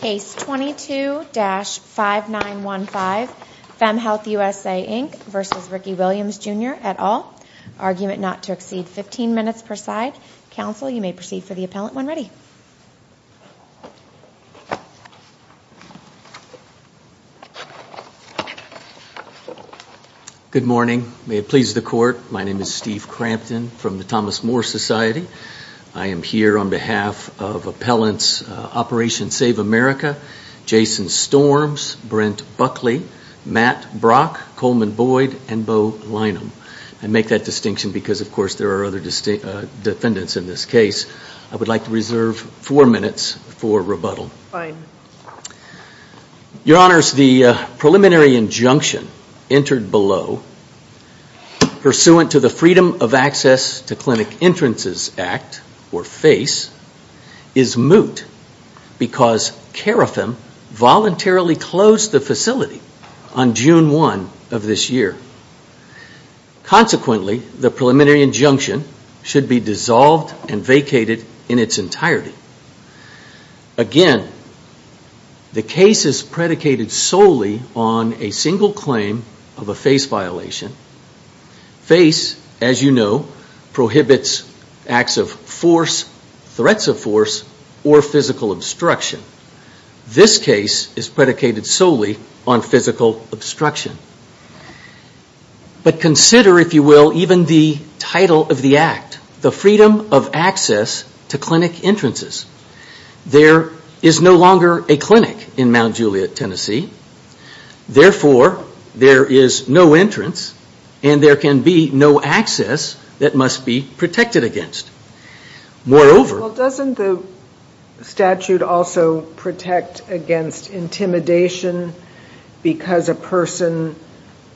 Case 22-5915, FemHealth USA Inc v. Rickey Williams Jr, et al. Argument not to exceed 15 minutes per side. Counsel, you may proceed for the appellant when ready. Good morning. May it please the Court. My name is Steve Crampton from the Thomas More Society. I am here on behalf of Appellants Operation Save America, Jason Storms, Brent Buckley, Matt Brock, Coleman Boyd, and Bo Lynham. I make that distinction because, of course, there are other defendants in this case. I would like to reserve four minutes for rebuttal. Fine. Your Honors, the preliminary injunction entered below, pursuant to the Freedom of Access to Clinic Entrances Act, or FACE, is moot because CARIFM voluntarily closed the facility on June 1 of this year. Consequently, the preliminary injunction should be dissolved and vacated in its entirety. Again, the case is predicated solely on a single claim of a FACE violation. FACE, as you know, prohibits acts of force, threats of force, or physical obstruction. This case is predicated solely on physical obstruction. But consider, if you will, even the title of the act, the Freedom of Access to Clinic Entrances. There is no longer a clinic in Mount Juliet, Tennessee. Therefore, there is no entrance and there can be no access that must be protected against. Moreover... Well, doesn't the statute also protect against intimidation because a person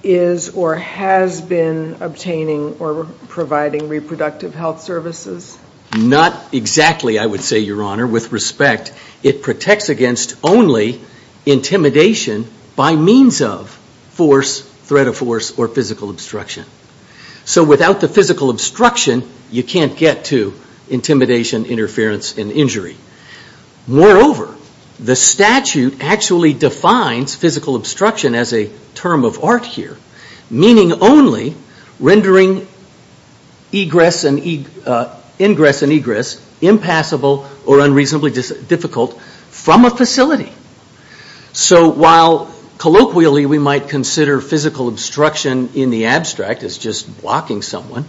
is or has been obtaining or providing reproductive health services? Not exactly, I would say, Your Honor. With respect, it protects against only intimidation by means of force, threat of force, or physical obstruction. So without the physical obstruction, you can't get to intimidation, interference, and injury. Moreover, the statute actually defines physical obstruction as a term of art here, meaning only rendering ingress and egress impassable or unreasonably difficult from a facility. So while colloquially we might consider physical obstruction in the abstract as just blocking someone,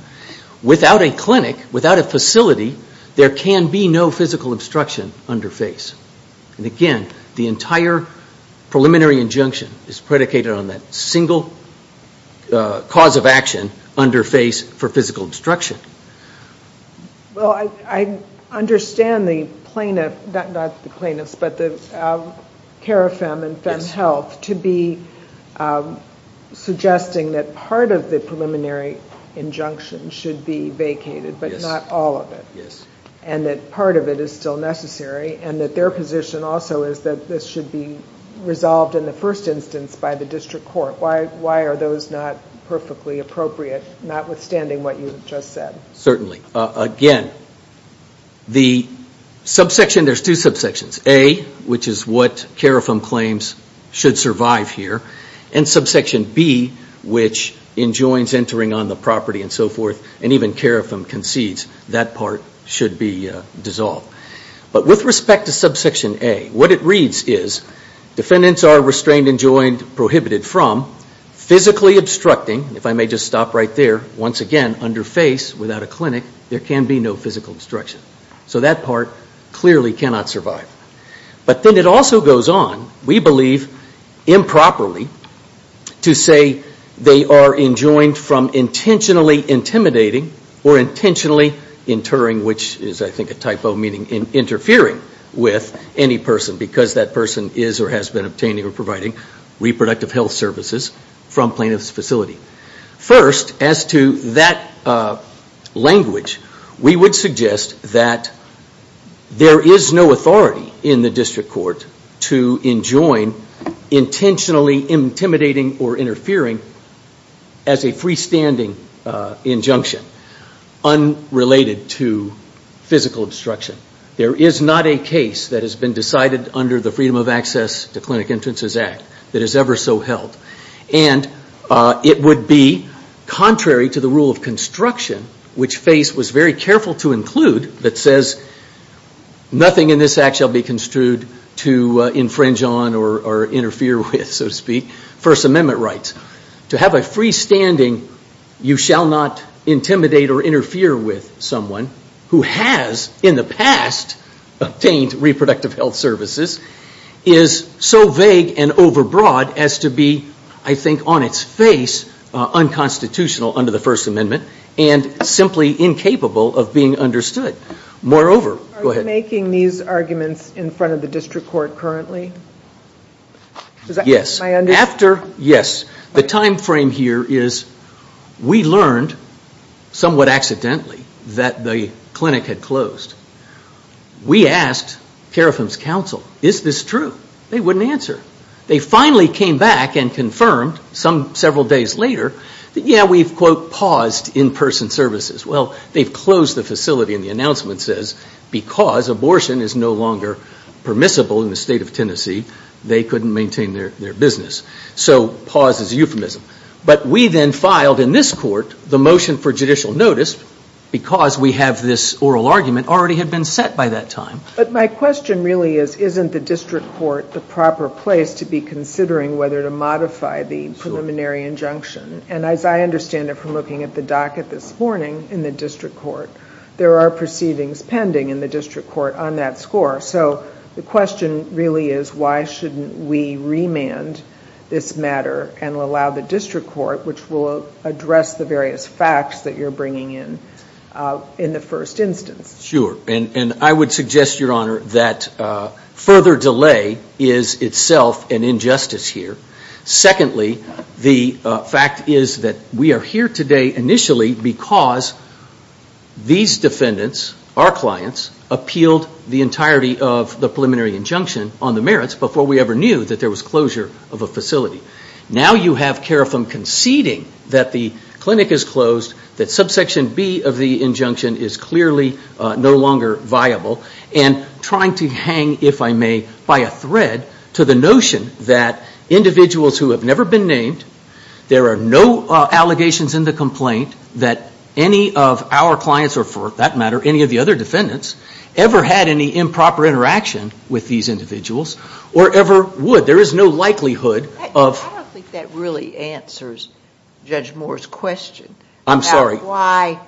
without a clinic, without a facility, there can be no physical obstruction under FACE. And again, the entire preliminary injunction is predicated on that single cause of action under FACE for physical obstruction. Well, I understand the plaintiff, not the plaintiffs, but the CARE-FM and FEM Health to be suggesting that part of the preliminary injunction should be vacated, but not all of it, and that part of it is still necessary, and that their position also is that this should be resolved in the first instance by the district court. Why are those not perfectly appropriate, notwithstanding what you just said? Certainly. Again, the subsection, there's two subsections, A, which is what CARE-FM claims should survive here, and subsection B, which enjoins entering on the property and so forth, and even CARE-FM concedes that part should be dissolved. But with respect to subsection A, what it reads is defendants are restrained, enjoined, prohibited from physically obstructing, if I may just stop right there, once again, under FACE, without a clinic, there can be no physical obstruction. So that part clearly cannot survive. But then it also goes on, we believe improperly, to say they are enjoined from intentionally intimidating or intentionally interring, which is, I think, a typo, meaning interfering with any person, because that person is or has been obtaining or providing reproductive health services from plaintiff's facility. First, as to that language, we would suggest that there is no authority in the district court to enjoin intentionally intimidating or interfering as a freestanding injunction unrelated to physical obstruction. There is not a case that has been decided under the Freedom of Access to Clinic Entrances Act that is ever so held. And it would be contrary to the rule of construction, which FACE was very careful to include, that says nothing in this act shall be construed to infringe on or interfere with, so to speak. First Amendment rights. To have a freestanding you shall not intimidate or interfere with someone who has, in the past, obtained reproductive health services is so vague and overbroad as to be, I think, on its face, unconstitutional under the First Amendment and simply incapable of being understood. Moreover, go ahead. Are you making these arguments in front of the district court currently? Yes. After? Yes. The time frame here is we learned, somewhat accidentally, that the clinic had closed. We asked Care of Whom's Counsel, is this true? They wouldn't answer. They finally came back and confirmed, several days later, that, yeah, we've, quote, paused in-person services. Well, they've closed the facility, and the announcement says, because abortion is no longer permissible in the state of Tennessee, they couldn't maintain their business. So pause is a euphemism. But we then filed in this court the motion for judicial notice because we have this oral argument already had been set by that time. But my question really is, isn't the district court the proper place to be considering whether to modify the preliminary injunction? And as I understand it from looking at the docket this morning in the district court, there are proceedings pending in the district court on that score. So the question really is, why shouldn't we remand this matter and allow the district court, which will address the various facts that you're bringing in, in the first instance? Sure. And I would suggest, Your Honor, that further delay is itself an injustice here. Secondly, the fact is that we are here today initially because these defendants, our clients, appealed the entirety of the preliminary injunction on the merits before we ever knew that there was closure of a facility. Now you have Karafim conceding that the clinic is closed, that subsection B of the injunction is clearly no longer viable, and trying to hang, if I may, by a thread to the notion that individuals who have never been named, there are no allegations in the complaint that any of our clients or, for that matter, any of the other defendants ever had any improper interaction with these individuals or ever would. There is no likelihood of – I don't think that really answers Judge Moore's question. I'm sorry. Why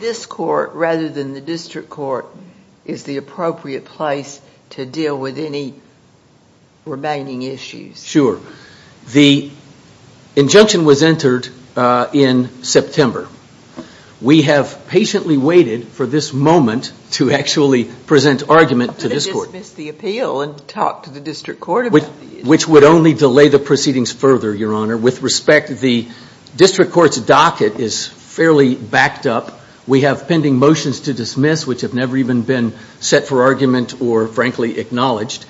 this court rather than the district court is the appropriate place to deal with any remaining issues? Sure. The injunction was entered in September. We have patiently waited for this moment to actually present argument to this court. But it dismissed the appeal and talked to the district court about it. Which would only delay the proceedings further, Your Honor. With respect, the district court's docket is fairly backed up. We have pending motions to dismiss, which have never even been set for argument or, frankly, acknowledged.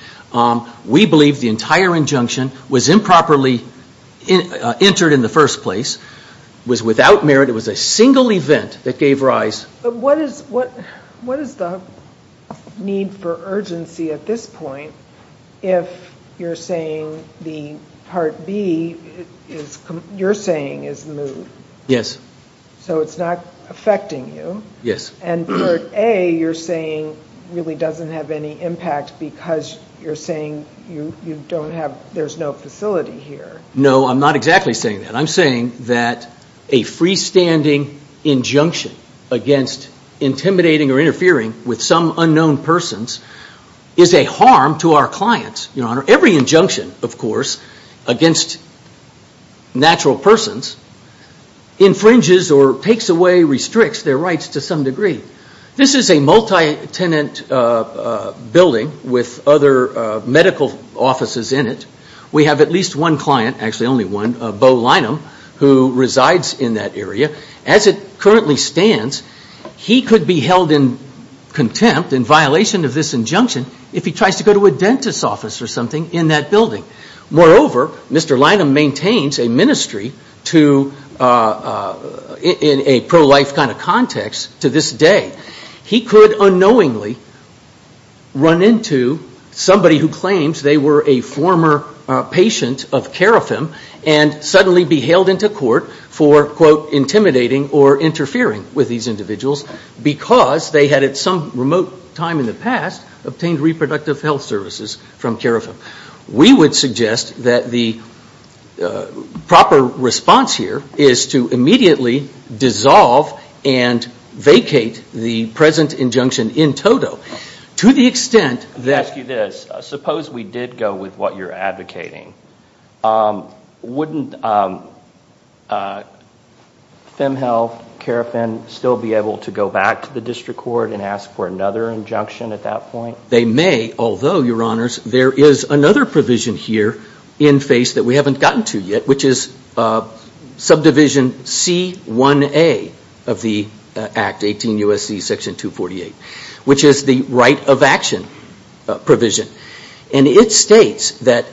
We believe the entire injunction was improperly entered in the first place, was without merit. It was a single event that gave rise. But what is the need for urgency at this point if you're saying the Part B, you're saying, is moved? Yes. So it's not affecting you. Yes. And Part A, you're saying, really doesn't have any impact because you're saying you don't have – there's no facility here. No, I'm not exactly saying that. I'm saying that a freestanding injunction against intimidating or interfering with some unknown persons is a harm to our clients, Your Honor. Every injunction, of course, against natural persons infringes or takes away, restricts their rights to some degree. This is a multi-tenant building with other medical offices in it. We have at least one client, actually only one, Bo Lynham, who resides in that area. As it currently stands, he could be held in contempt, in violation of this injunction, if he tries to go to a dentist's office or something in that building. Moreover, Mr. Lynham maintains a ministry in a pro-life kind of context to this day. He could unknowingly run into somebody who claims they were a former patient of carefim and suddenly be hailed into court for, quote, intimidating or interfering with these individuals because they had, at some remote time in the past, obtained reproductive health services from carefim. We would suggest that the proper response here is to immediately dissolve and vacate the present injunction in toto. To the extent that... Let me ask you this. Suppose we did go with what you're advocating. Wouldn't fem health, carefim still be able to go back to the district court and ask for another injunction at that point? Well, they may, although, Your Honors, there is another provision here in face that we haven't gotten to yet, which is subdivision C1A of the Act, 18 U.S.C. Section 248, which is the right of action provision. And it states that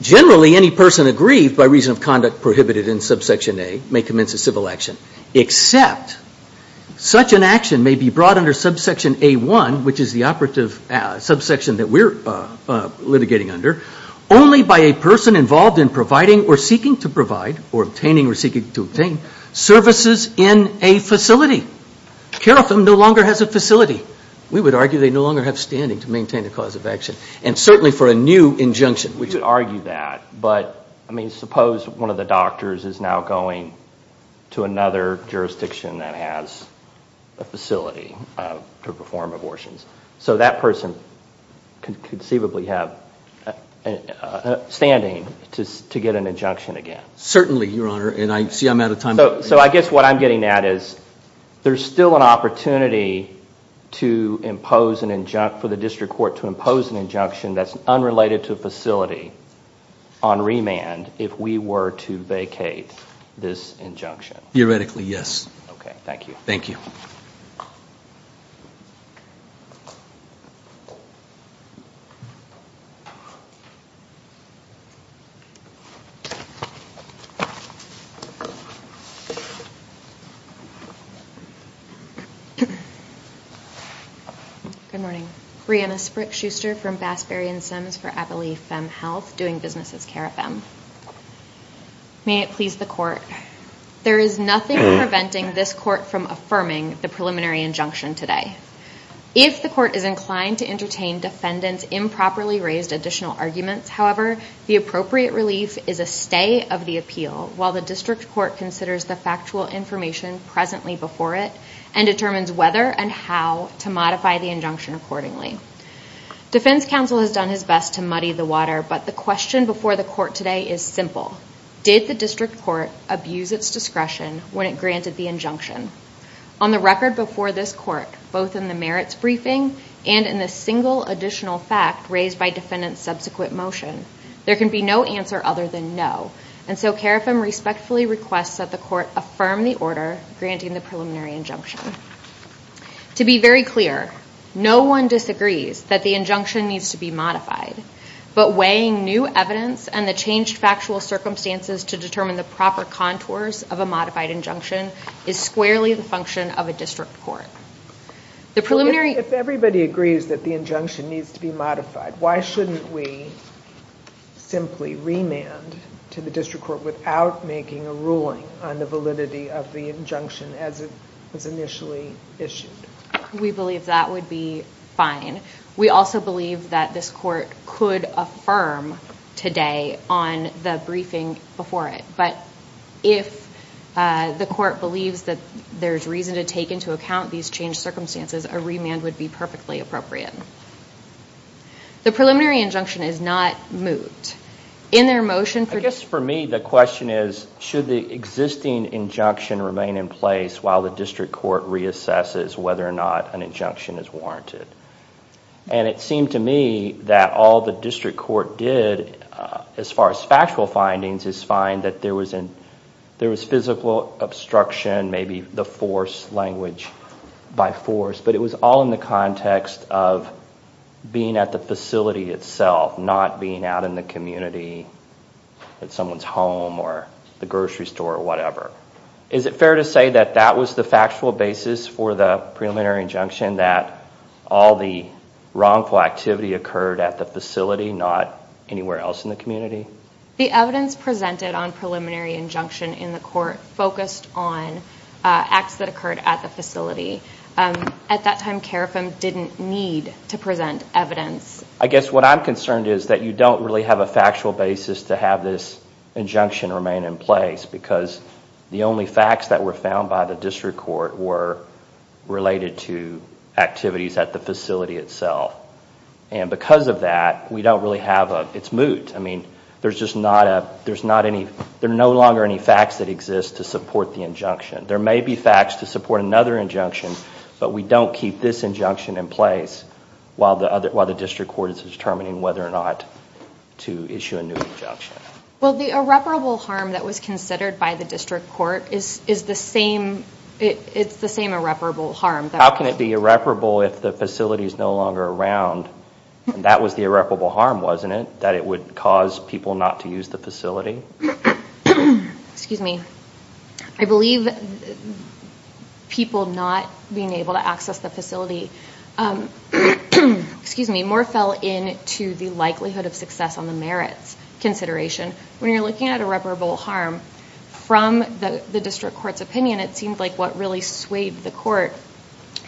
generally any person aggrieved by reason of conduct prohibited in subsection A may commence a civil action, except such an action may be brought under subsection A1, which is the operative subsection that we're litigating under, only by a person involved in providing or seeking to provide or obtaining or seeking to obtain services in a facility. Carefim no longer has a facility. We would argue they no longer have standing to maintain the cause of action, and certainly for a new injunction. We could argue that, but suppose one of the doctors is now going to another jurisdiction that has a facility to perform abortions. So that person could conceivably have standing to get an injunction again. Certainly, Your Honor, and I see I'm out of time. So I guess what I'm getting at is there's still an opportunity for the district court to impose an injunction that's unrelated to a facility on remand if we were to vacate this injunction. Theoretically, yes. Okay, thank you. Thank you. Thank you. Good morning. Brianna Sprick-Schuster from Bassberry and Sims for Abilene Fem Health, doing business as Carefim. May it please the court. There is nothing preventing this court from affirming the preliminary injunction today. If the court is inclined to entertain defendant's improperly raised additional arguments, however, the appropriate relief is a stay of the appeal while the district court considers the factual information presently before it and determines whether and how to modify the injunction accordingly. Defense counsel has done his best to muddy the water, but the question before the court today is simple. Did the district court abuse its discretion when it granted the injunction? On the record before this court, both in the merits briefing and in the single additional fact raised by defendant's subsequent motion, there can be no answer other than no. And so Carefim respectfully requests that the court affirm the order granting the preliminary injunction. To be very clear, no one disagrees that the injunction needs to be modified, but weighing new evidence and the changed factual circumstances to determine the proper contours of a modified injunction is squarely the function of a district court. If everybody agrees that the injunction needs to be modified, why shouldn't we simply remand to the district court without making a ruling on the validity of the injunction as it was initially issued? We believe that would be fine. We also believe that this court could affirm today on the briefing before it. But if the court believes that there's reason to take into account these changed circumstances, a remand would be perfectly appropriate. The preliminary injunction is not moved. In their motion for- I guess for me the question is, should the existing injunction remain in place while the district court reassesses whether or not an injunction is warranted? And it seemed to me that all the district court did, as far as factual findings, is find that there was physical obstruction, maybe the force language by force, but it was all in the context of being at the facility itself, not being out in the community at someone's home or the grocery store or whatever. Is it fair to say that that was the factual basis for the preliminary injunction, that all the wrongful activity occurred at the facility, not anywhere else in the community? The evidence presented on preliminary injunction in the court focused on acts that occurred at the facility. At that time, CARIFM didn't need to present evidence. I guess what I'm concerned is that you don't really have a factual basis to have this injunction remain in place because the only facts that were found by the district court were related to activities at the facility itself. And because of that, we don't really have a- it's moot. I mean, there's no longer any facts that exist to support the injunction. There may be facts to support another injunction, but we don't keep this injunction in place while the district court is determining whether or not to issue a new injunction. Well, the irreparable harm that was considered by the district court is the same- it's the same irreparable harm. How can it be irreparable if the facility is no longer around? That was the irreparable harm, wasn't it, that it would cause people not to use the facility? Excuse me. I believe people not being able to access the facility- When you're looking at irreparable harm, from the district court's opinion, it seemed like what really swayed the court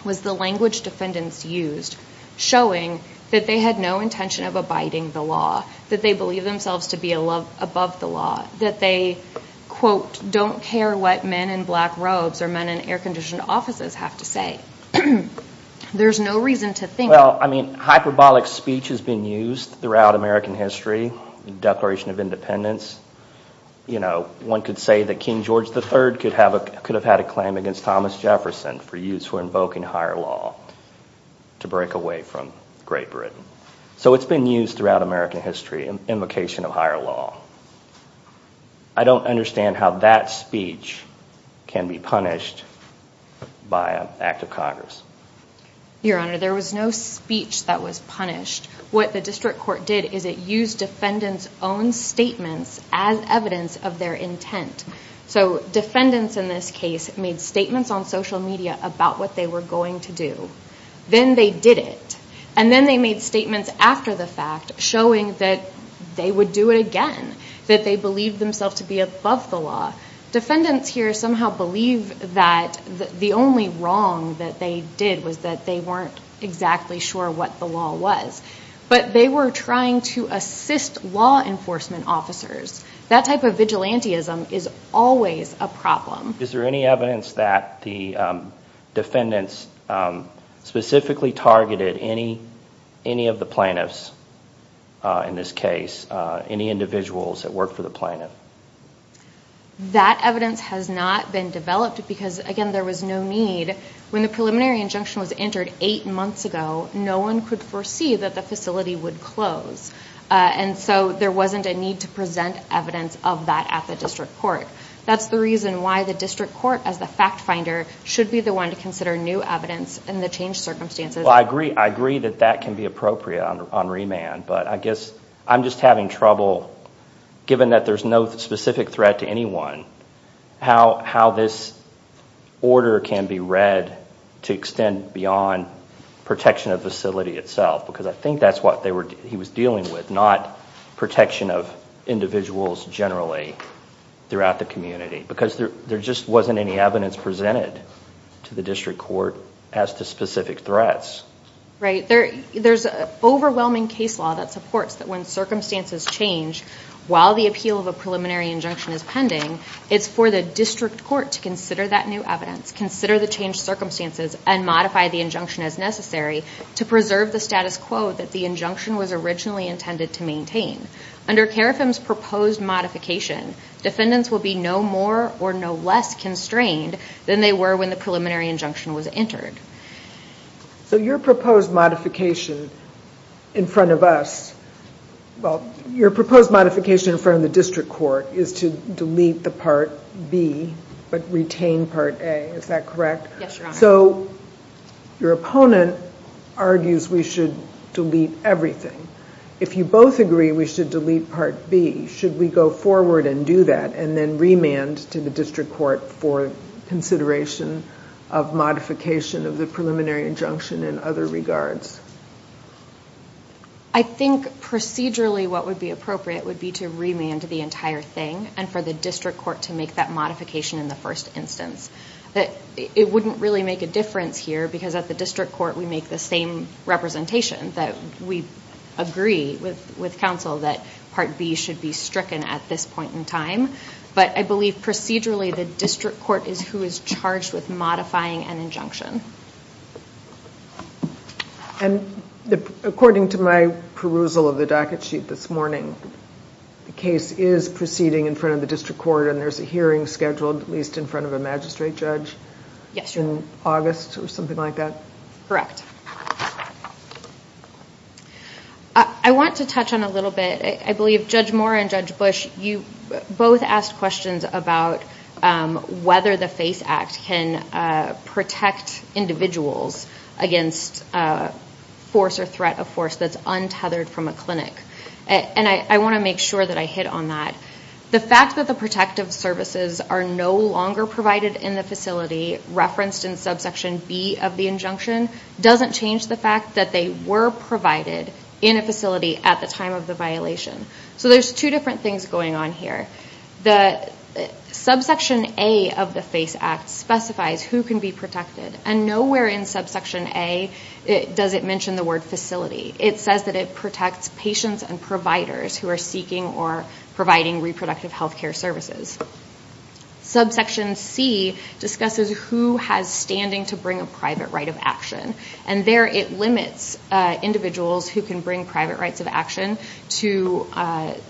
was the language defendants used, showing that they had no intention of abiding the law, that they believe themselves to be above the law, that they, quote, don't care what men in black robes or men in air-conditioned offices have to say. There's no reason to think- Throughout American history, the Declaration of Independence, one could say that King George III could have had a claim against Thomas Jefferson for use for invoking higher law to break away from Great Britain. So it's been used throughout American history, invocation of higher law. I don't understand how that speech can be punished by an act of Congress. Your Honor, there was no speech that was punished. What the district court did is it used defendants' own statements as evidence of their intent. So defendants in this case made statements on social media about what they were going to do. Then they did it, and then they made statements after the fact, showing that they would do it again, that they believed themselves to be above the law. Defendants here somehow believe that the only wrong that they did was that they weren't exactly sure what the law was. But they were trying to assist law enforcement officers. That type of vigilantism is always a problem. Is there any evidence that the defendants specifically targeted any of the plaintiffs in this case, any individuals that worked for the plaintiff? That evidence has not been developed because, again, there was no need. When the preliminary injunction was entered eight months ago, no one could foresee that the facility would close. So there wasn't a need to present evidence of that at the district court. That's the reason why the district court, as the fact finder, should be the one to consider new evidence in the changed circumstances. I agree that that can be appropriate on remand, but I guess I'm just having trouble, given that there's no specific threat to anyone, how this order can be read to extend beyond protection of the facility itself. Because I think that's what he was dealing with, not protection of individuals generally throughout the community. Because there just wasn't any evidence presented to the district court as to specific threats. Right. There's an overwhelming case law that supports that when circumstances change, while the appeal of a preliminary injunction is pending, it's for the district court to consider that new evidence, consider the changed circumstances, and modify the injunction as necessary to preserve the status quo that the injunction was originally intended to maintain. Under CARIFM's proposed modification, defendants will be no more or no less constrained than they were when the preliminary injunction was entered. So your proposed modification in front of us, well, your proposed modification in front of the district court is to delete the Part B, but retain Part A. Is that correct? Yes, Your Honor. So your opponent argues we should delete everything. If you both agree we should delete Part B, should we go forward and do that and then remand to the district court for consideration of modification of the preliminary injunction in other regards? I think procedurally what would be appropriate would be to remand the entire thing and for the district court to make that modification in the first instance. It wouldn't really make a difference here because at the district court we make the same representation that we agree with counsel that Part B should be stricken at this point in time, but I believe procedurally the district court is who is charged with modifying an injunction. And according to my perusal of the docket sheet this morning, the case is proceeding in front of the district court and there's a hearing scheduled at least in front of a magistrate judge in August or something like that? Correct. I want to touch on a little bit, I believe Judge Moore and Judge Bush, you both asked questions about whether the FACE Act can protect individuals against force or threat of force that's untethered from a clinic. And I want to make sure that I hit on that. The fact that the protective services are no longer provided in the facility, referenced in subsection B of the injunction, doesn't change the fact that they were provided in a facility at the time of the violation. So there's two different things going on here. Subsection A of the FACE Act specifies who can be protected and nowhere in subsection A does it mention the word facility. It says that it protects patients and providers who are seeking or providing reproductive health care services. Subsection C discusses who has standing to bring a private right of action and there it limits individuals who can bring private rights of action to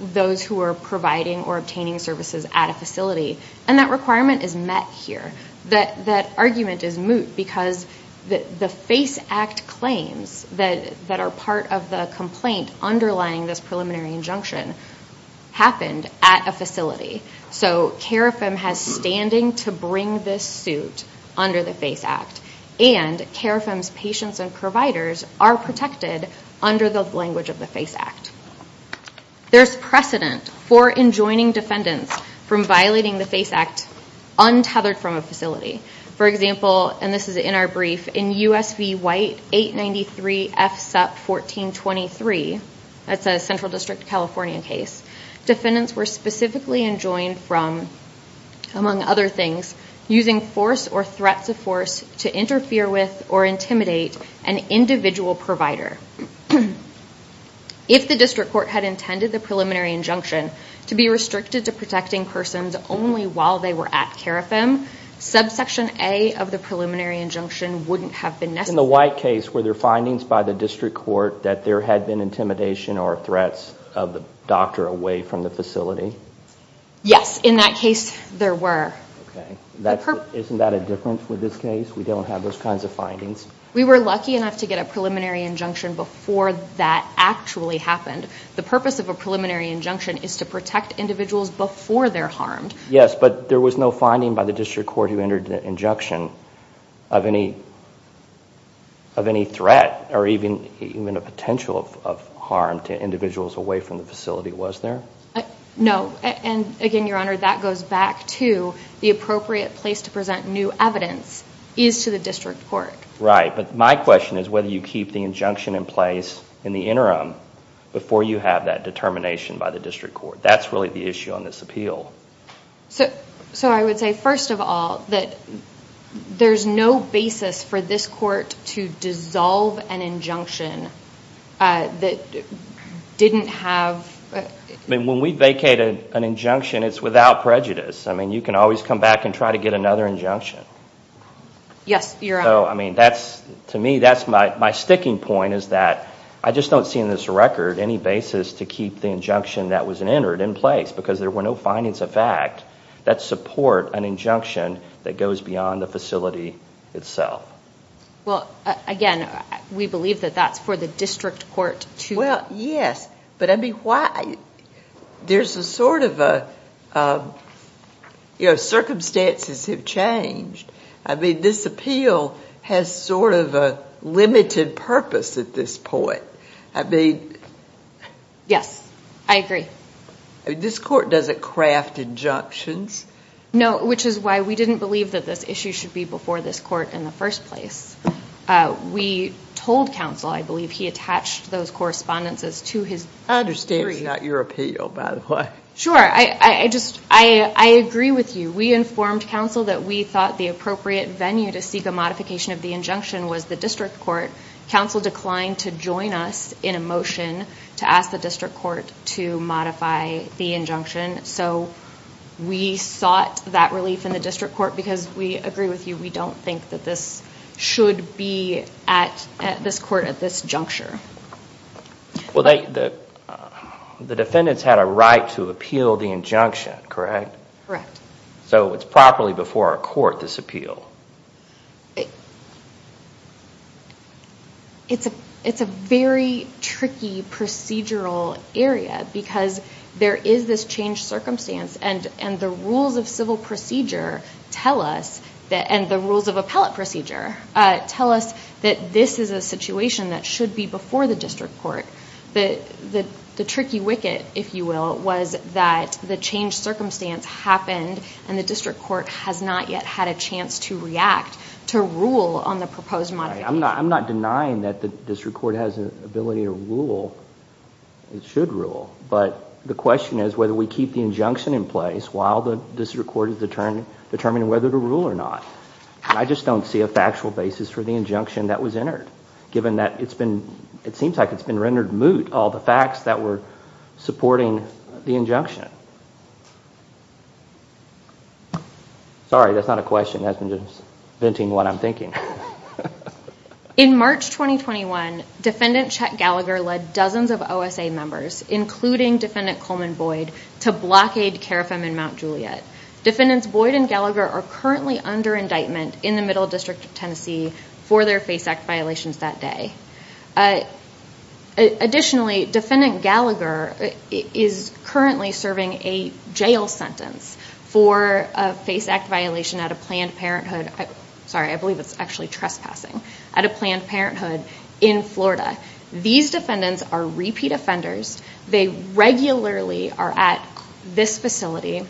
those who are providing or obtaining services at a facility. And that requirement is met here. That argument is moot because the FACE Act claims that are part of the complaint underlying this preliminary injunction happened at a facility. So CAREFM has standing to bring this suit under the FACE Act and CAREFM's patients and providers are protected under the language of the FACE Act. There's precedent for enjoining defendants from violating the FACE Act untethered from a facility. For example, and this is in our brief, in USV White 893 FSEP 1423, that's a Central District California case, defendants were specifically enjoined from, among other things, using force or threats of force to interfere with or intimidate an individual provider. If the district court had intended the preliminary injunction to be restricted to protecting persons only while they were at CAREFM, subsection A of the preliminary injunction wouldn't have been necessary. In the White case, were there findings by the district court that there had been intimidation or threats of the doctor away from the facility? Yes. In that case, there were. Okay. Isn't that a difference with this case? We don't have those kinds of findings? We were lucky enough to get a preliminary injunction before that actually happened. The purpose of a preliminary injunction is to protect individuals before they're harmed. Yes, but there was no finding by the district court who entered the injunction of any threat or even a potential of harm to individuals away from the facility, was there? No. And again, Your Honor, that goes back to the appropriate place to present new evidence is to the district court. Right. But my question is whether you keep the injunction in place in the interim before you have that determination by the district court. That's really the issue on this appeal. So I would say, first of all, that there's no basis for this court to dissolve an injunction that didn't have... I mean, when we vacated an injunction, it's without prejudice. I mean, you can always come back and try to get another injunction. Yes, Your Honor. So, I mean, to me, my sticking point is that I just don't see in this record any basis to keep the injunction that was entered in place because there were no findings of fact that support an injunction that goes beyond the facility itself. Well, again, we believe that that's for the district court to... Well, yes, but I mean, why... There's a sort of a... You know, circumstances have changed. I mean, this appeal has sort of a limited purpose at this point. I mean... Yes, I agree. This court doesn't craft injunctions. No, which is why we didn't believe that this issue should be before this court in the first place. We told counsel, I believe, he attached those correspondences to his... I understand it's not your appeal, by the way. Sure. I just... I agree with you. We informed counsel that we thought the appropriate venue to seek a modification of the injunction was the district court. Counsel declined to join us in a motion to ask the district court to modify the injunction. So we sought that relief in the district court because, we agree with you, we don't think that this should be at this court at this juncture. Well, the defendants had a right to appeal the injunction, correct? Correct. So it's properly before our court, this appeal. It's a very tricky procedural area because there is this changed circumstance and the rules of civil procedure tell us, and the rules of appellate procedure, tell us that this is a situation that should be before the district court. The tricky wicket, if you will, was that the changed circumstance happened and the district court has not yet had a chance to react, to rule on the proposed modification. I'm not denying that the district court has an ability to rule. It should rule. But the question is whether we keep the injunction in place while the district court is determining whether to rule or not. I just don't see a factual basis for the injunction that was entered, given that it seems like it's been rendered moot, all the facts that were supporting the injunction. Sorry, that's not a question, that's just venting what I'm thinking. In March 2021, Defendant Chet Gallagher led dozens of OSA members, including Defendant Coleman Boyd, to blockade Carafem in Mount Juliet. Defendants Boyd and Gallagher are currently under indictment in the Middle District of Tennessee for their FACE Act violations that day. Additionally, Defendant Gallagher is currently serving a jail sentence for a FACE Act violation at a Planned Parenthood, sorry, I believe it's actually trespassing, at a Planned Parenthood in Florida. These defendants are repeat offenders. They regularly are at this facility.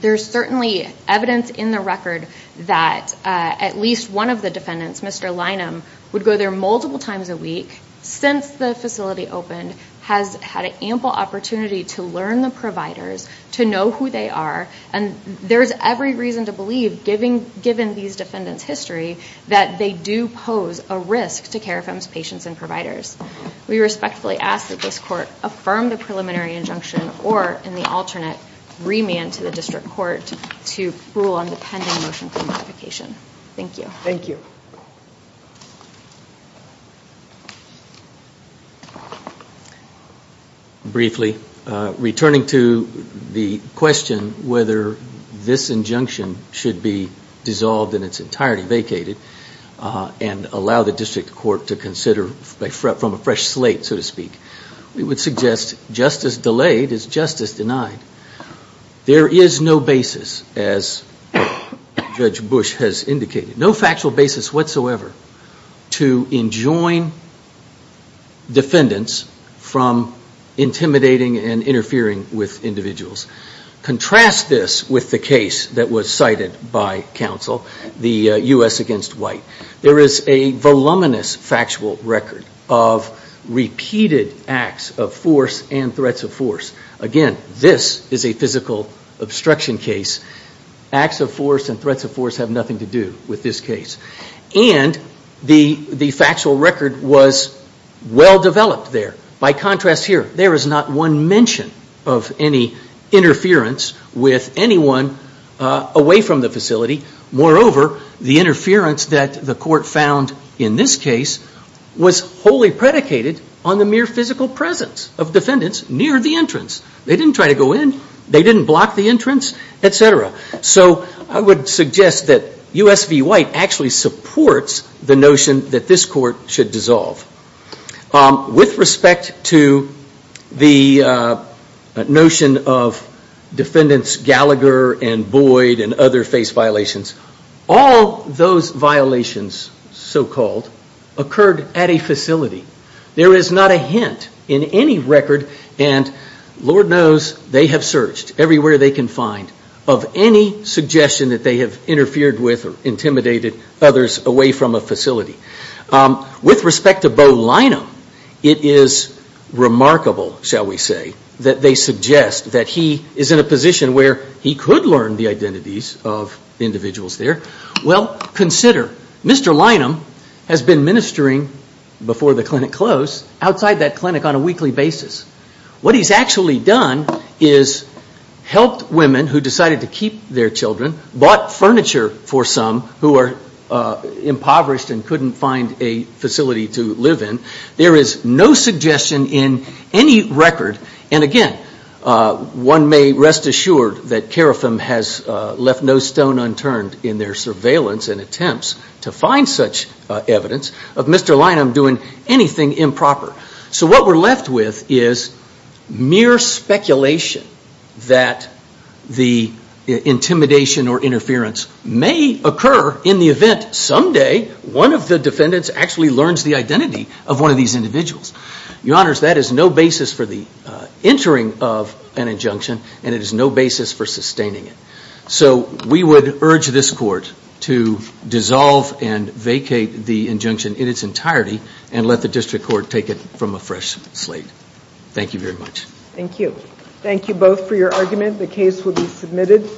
There's certainly evidence in the record that at least one of the defendants, Mr. Lynham, would go there multiple times a week since the facility opened, has had an ample opportunity to learn the providers, to know who they are, and there's every reason to believe, given these defendants' history, that they do pose a risk to Carafem's patients and providers. We respectfully ask that this Court affirm the preliminary injunction or, in the alternate, remand to the District Court to rule on the pending motion for modification. Thank you. Thank you. Briefly, returning to the question whether this injunction should be dissolved in its entirety, vacated, and allow the District Court to consider from a fresh slate, so to speak, we would suggest just as delayed is just as denied. There is no basis, as Judge Bush has indicated, no factual basis whatsoever to enjoin defendants from intimidating and interfering with individuals. Contrast this with the case that was cited by counsel, the U.S. against White. There is a voluminous factual record of repeated acts of force and threats of force. Again, this is a physical obstruction case. Acts of force and threats of force have nothing to do with this case. And the factual record was well developed there. By contrast here, there is not one mention of any interference with anyone away from the facility. Moreover, the interference that the Court found in this case was wholly predicated on the mere physical presence of defendants near the entrance. They didn't try to go in. They didn't block the entrance, et cetera. So I would suggest that U.S. v. White actually supports the notion that this Court should dissolve. With respect to the notion of defendants Gallagher and Boyd and other face violations, all those violations, so-called, occurred at a facility. There is not a hint in any record, and Lord knows they have searched everywhere they can find, of any suggestion that they have interfered with or intimidated others away from a facility. With respect to Bo Lynham, it is remarkable, shall we say, that they suggest that he is in a position where he could learn the identities of individuals there. Well, consider, Mr. Lynham has been ministering before the clinic closed outside that clinic on a weekly basis. What he's actually done is helped women who decided to keep their children, bought furniture for some who are impoverished and couldn't find a facility to live in. There is no suggestion in any record, and again, one may rest assured that CARIFM has left no stone unturned in their surveillance and attempts to find such evidence of Mr. Lynham doing anything improper. So what we're left with is mere speculation that the intimidation or interference may occur in the event someday one of the defendants actually learns the identity of one of these individuals. Your Honors, that is no basis for the entering of an injunction, and it is no basis for sustaining it. So we would urge this Court to dissolve and vacate the injunction in its entirety and let the District Court take it from a fresh slate. Thank you very much. Thank you. Thank you both for your argument. The case will be submitted.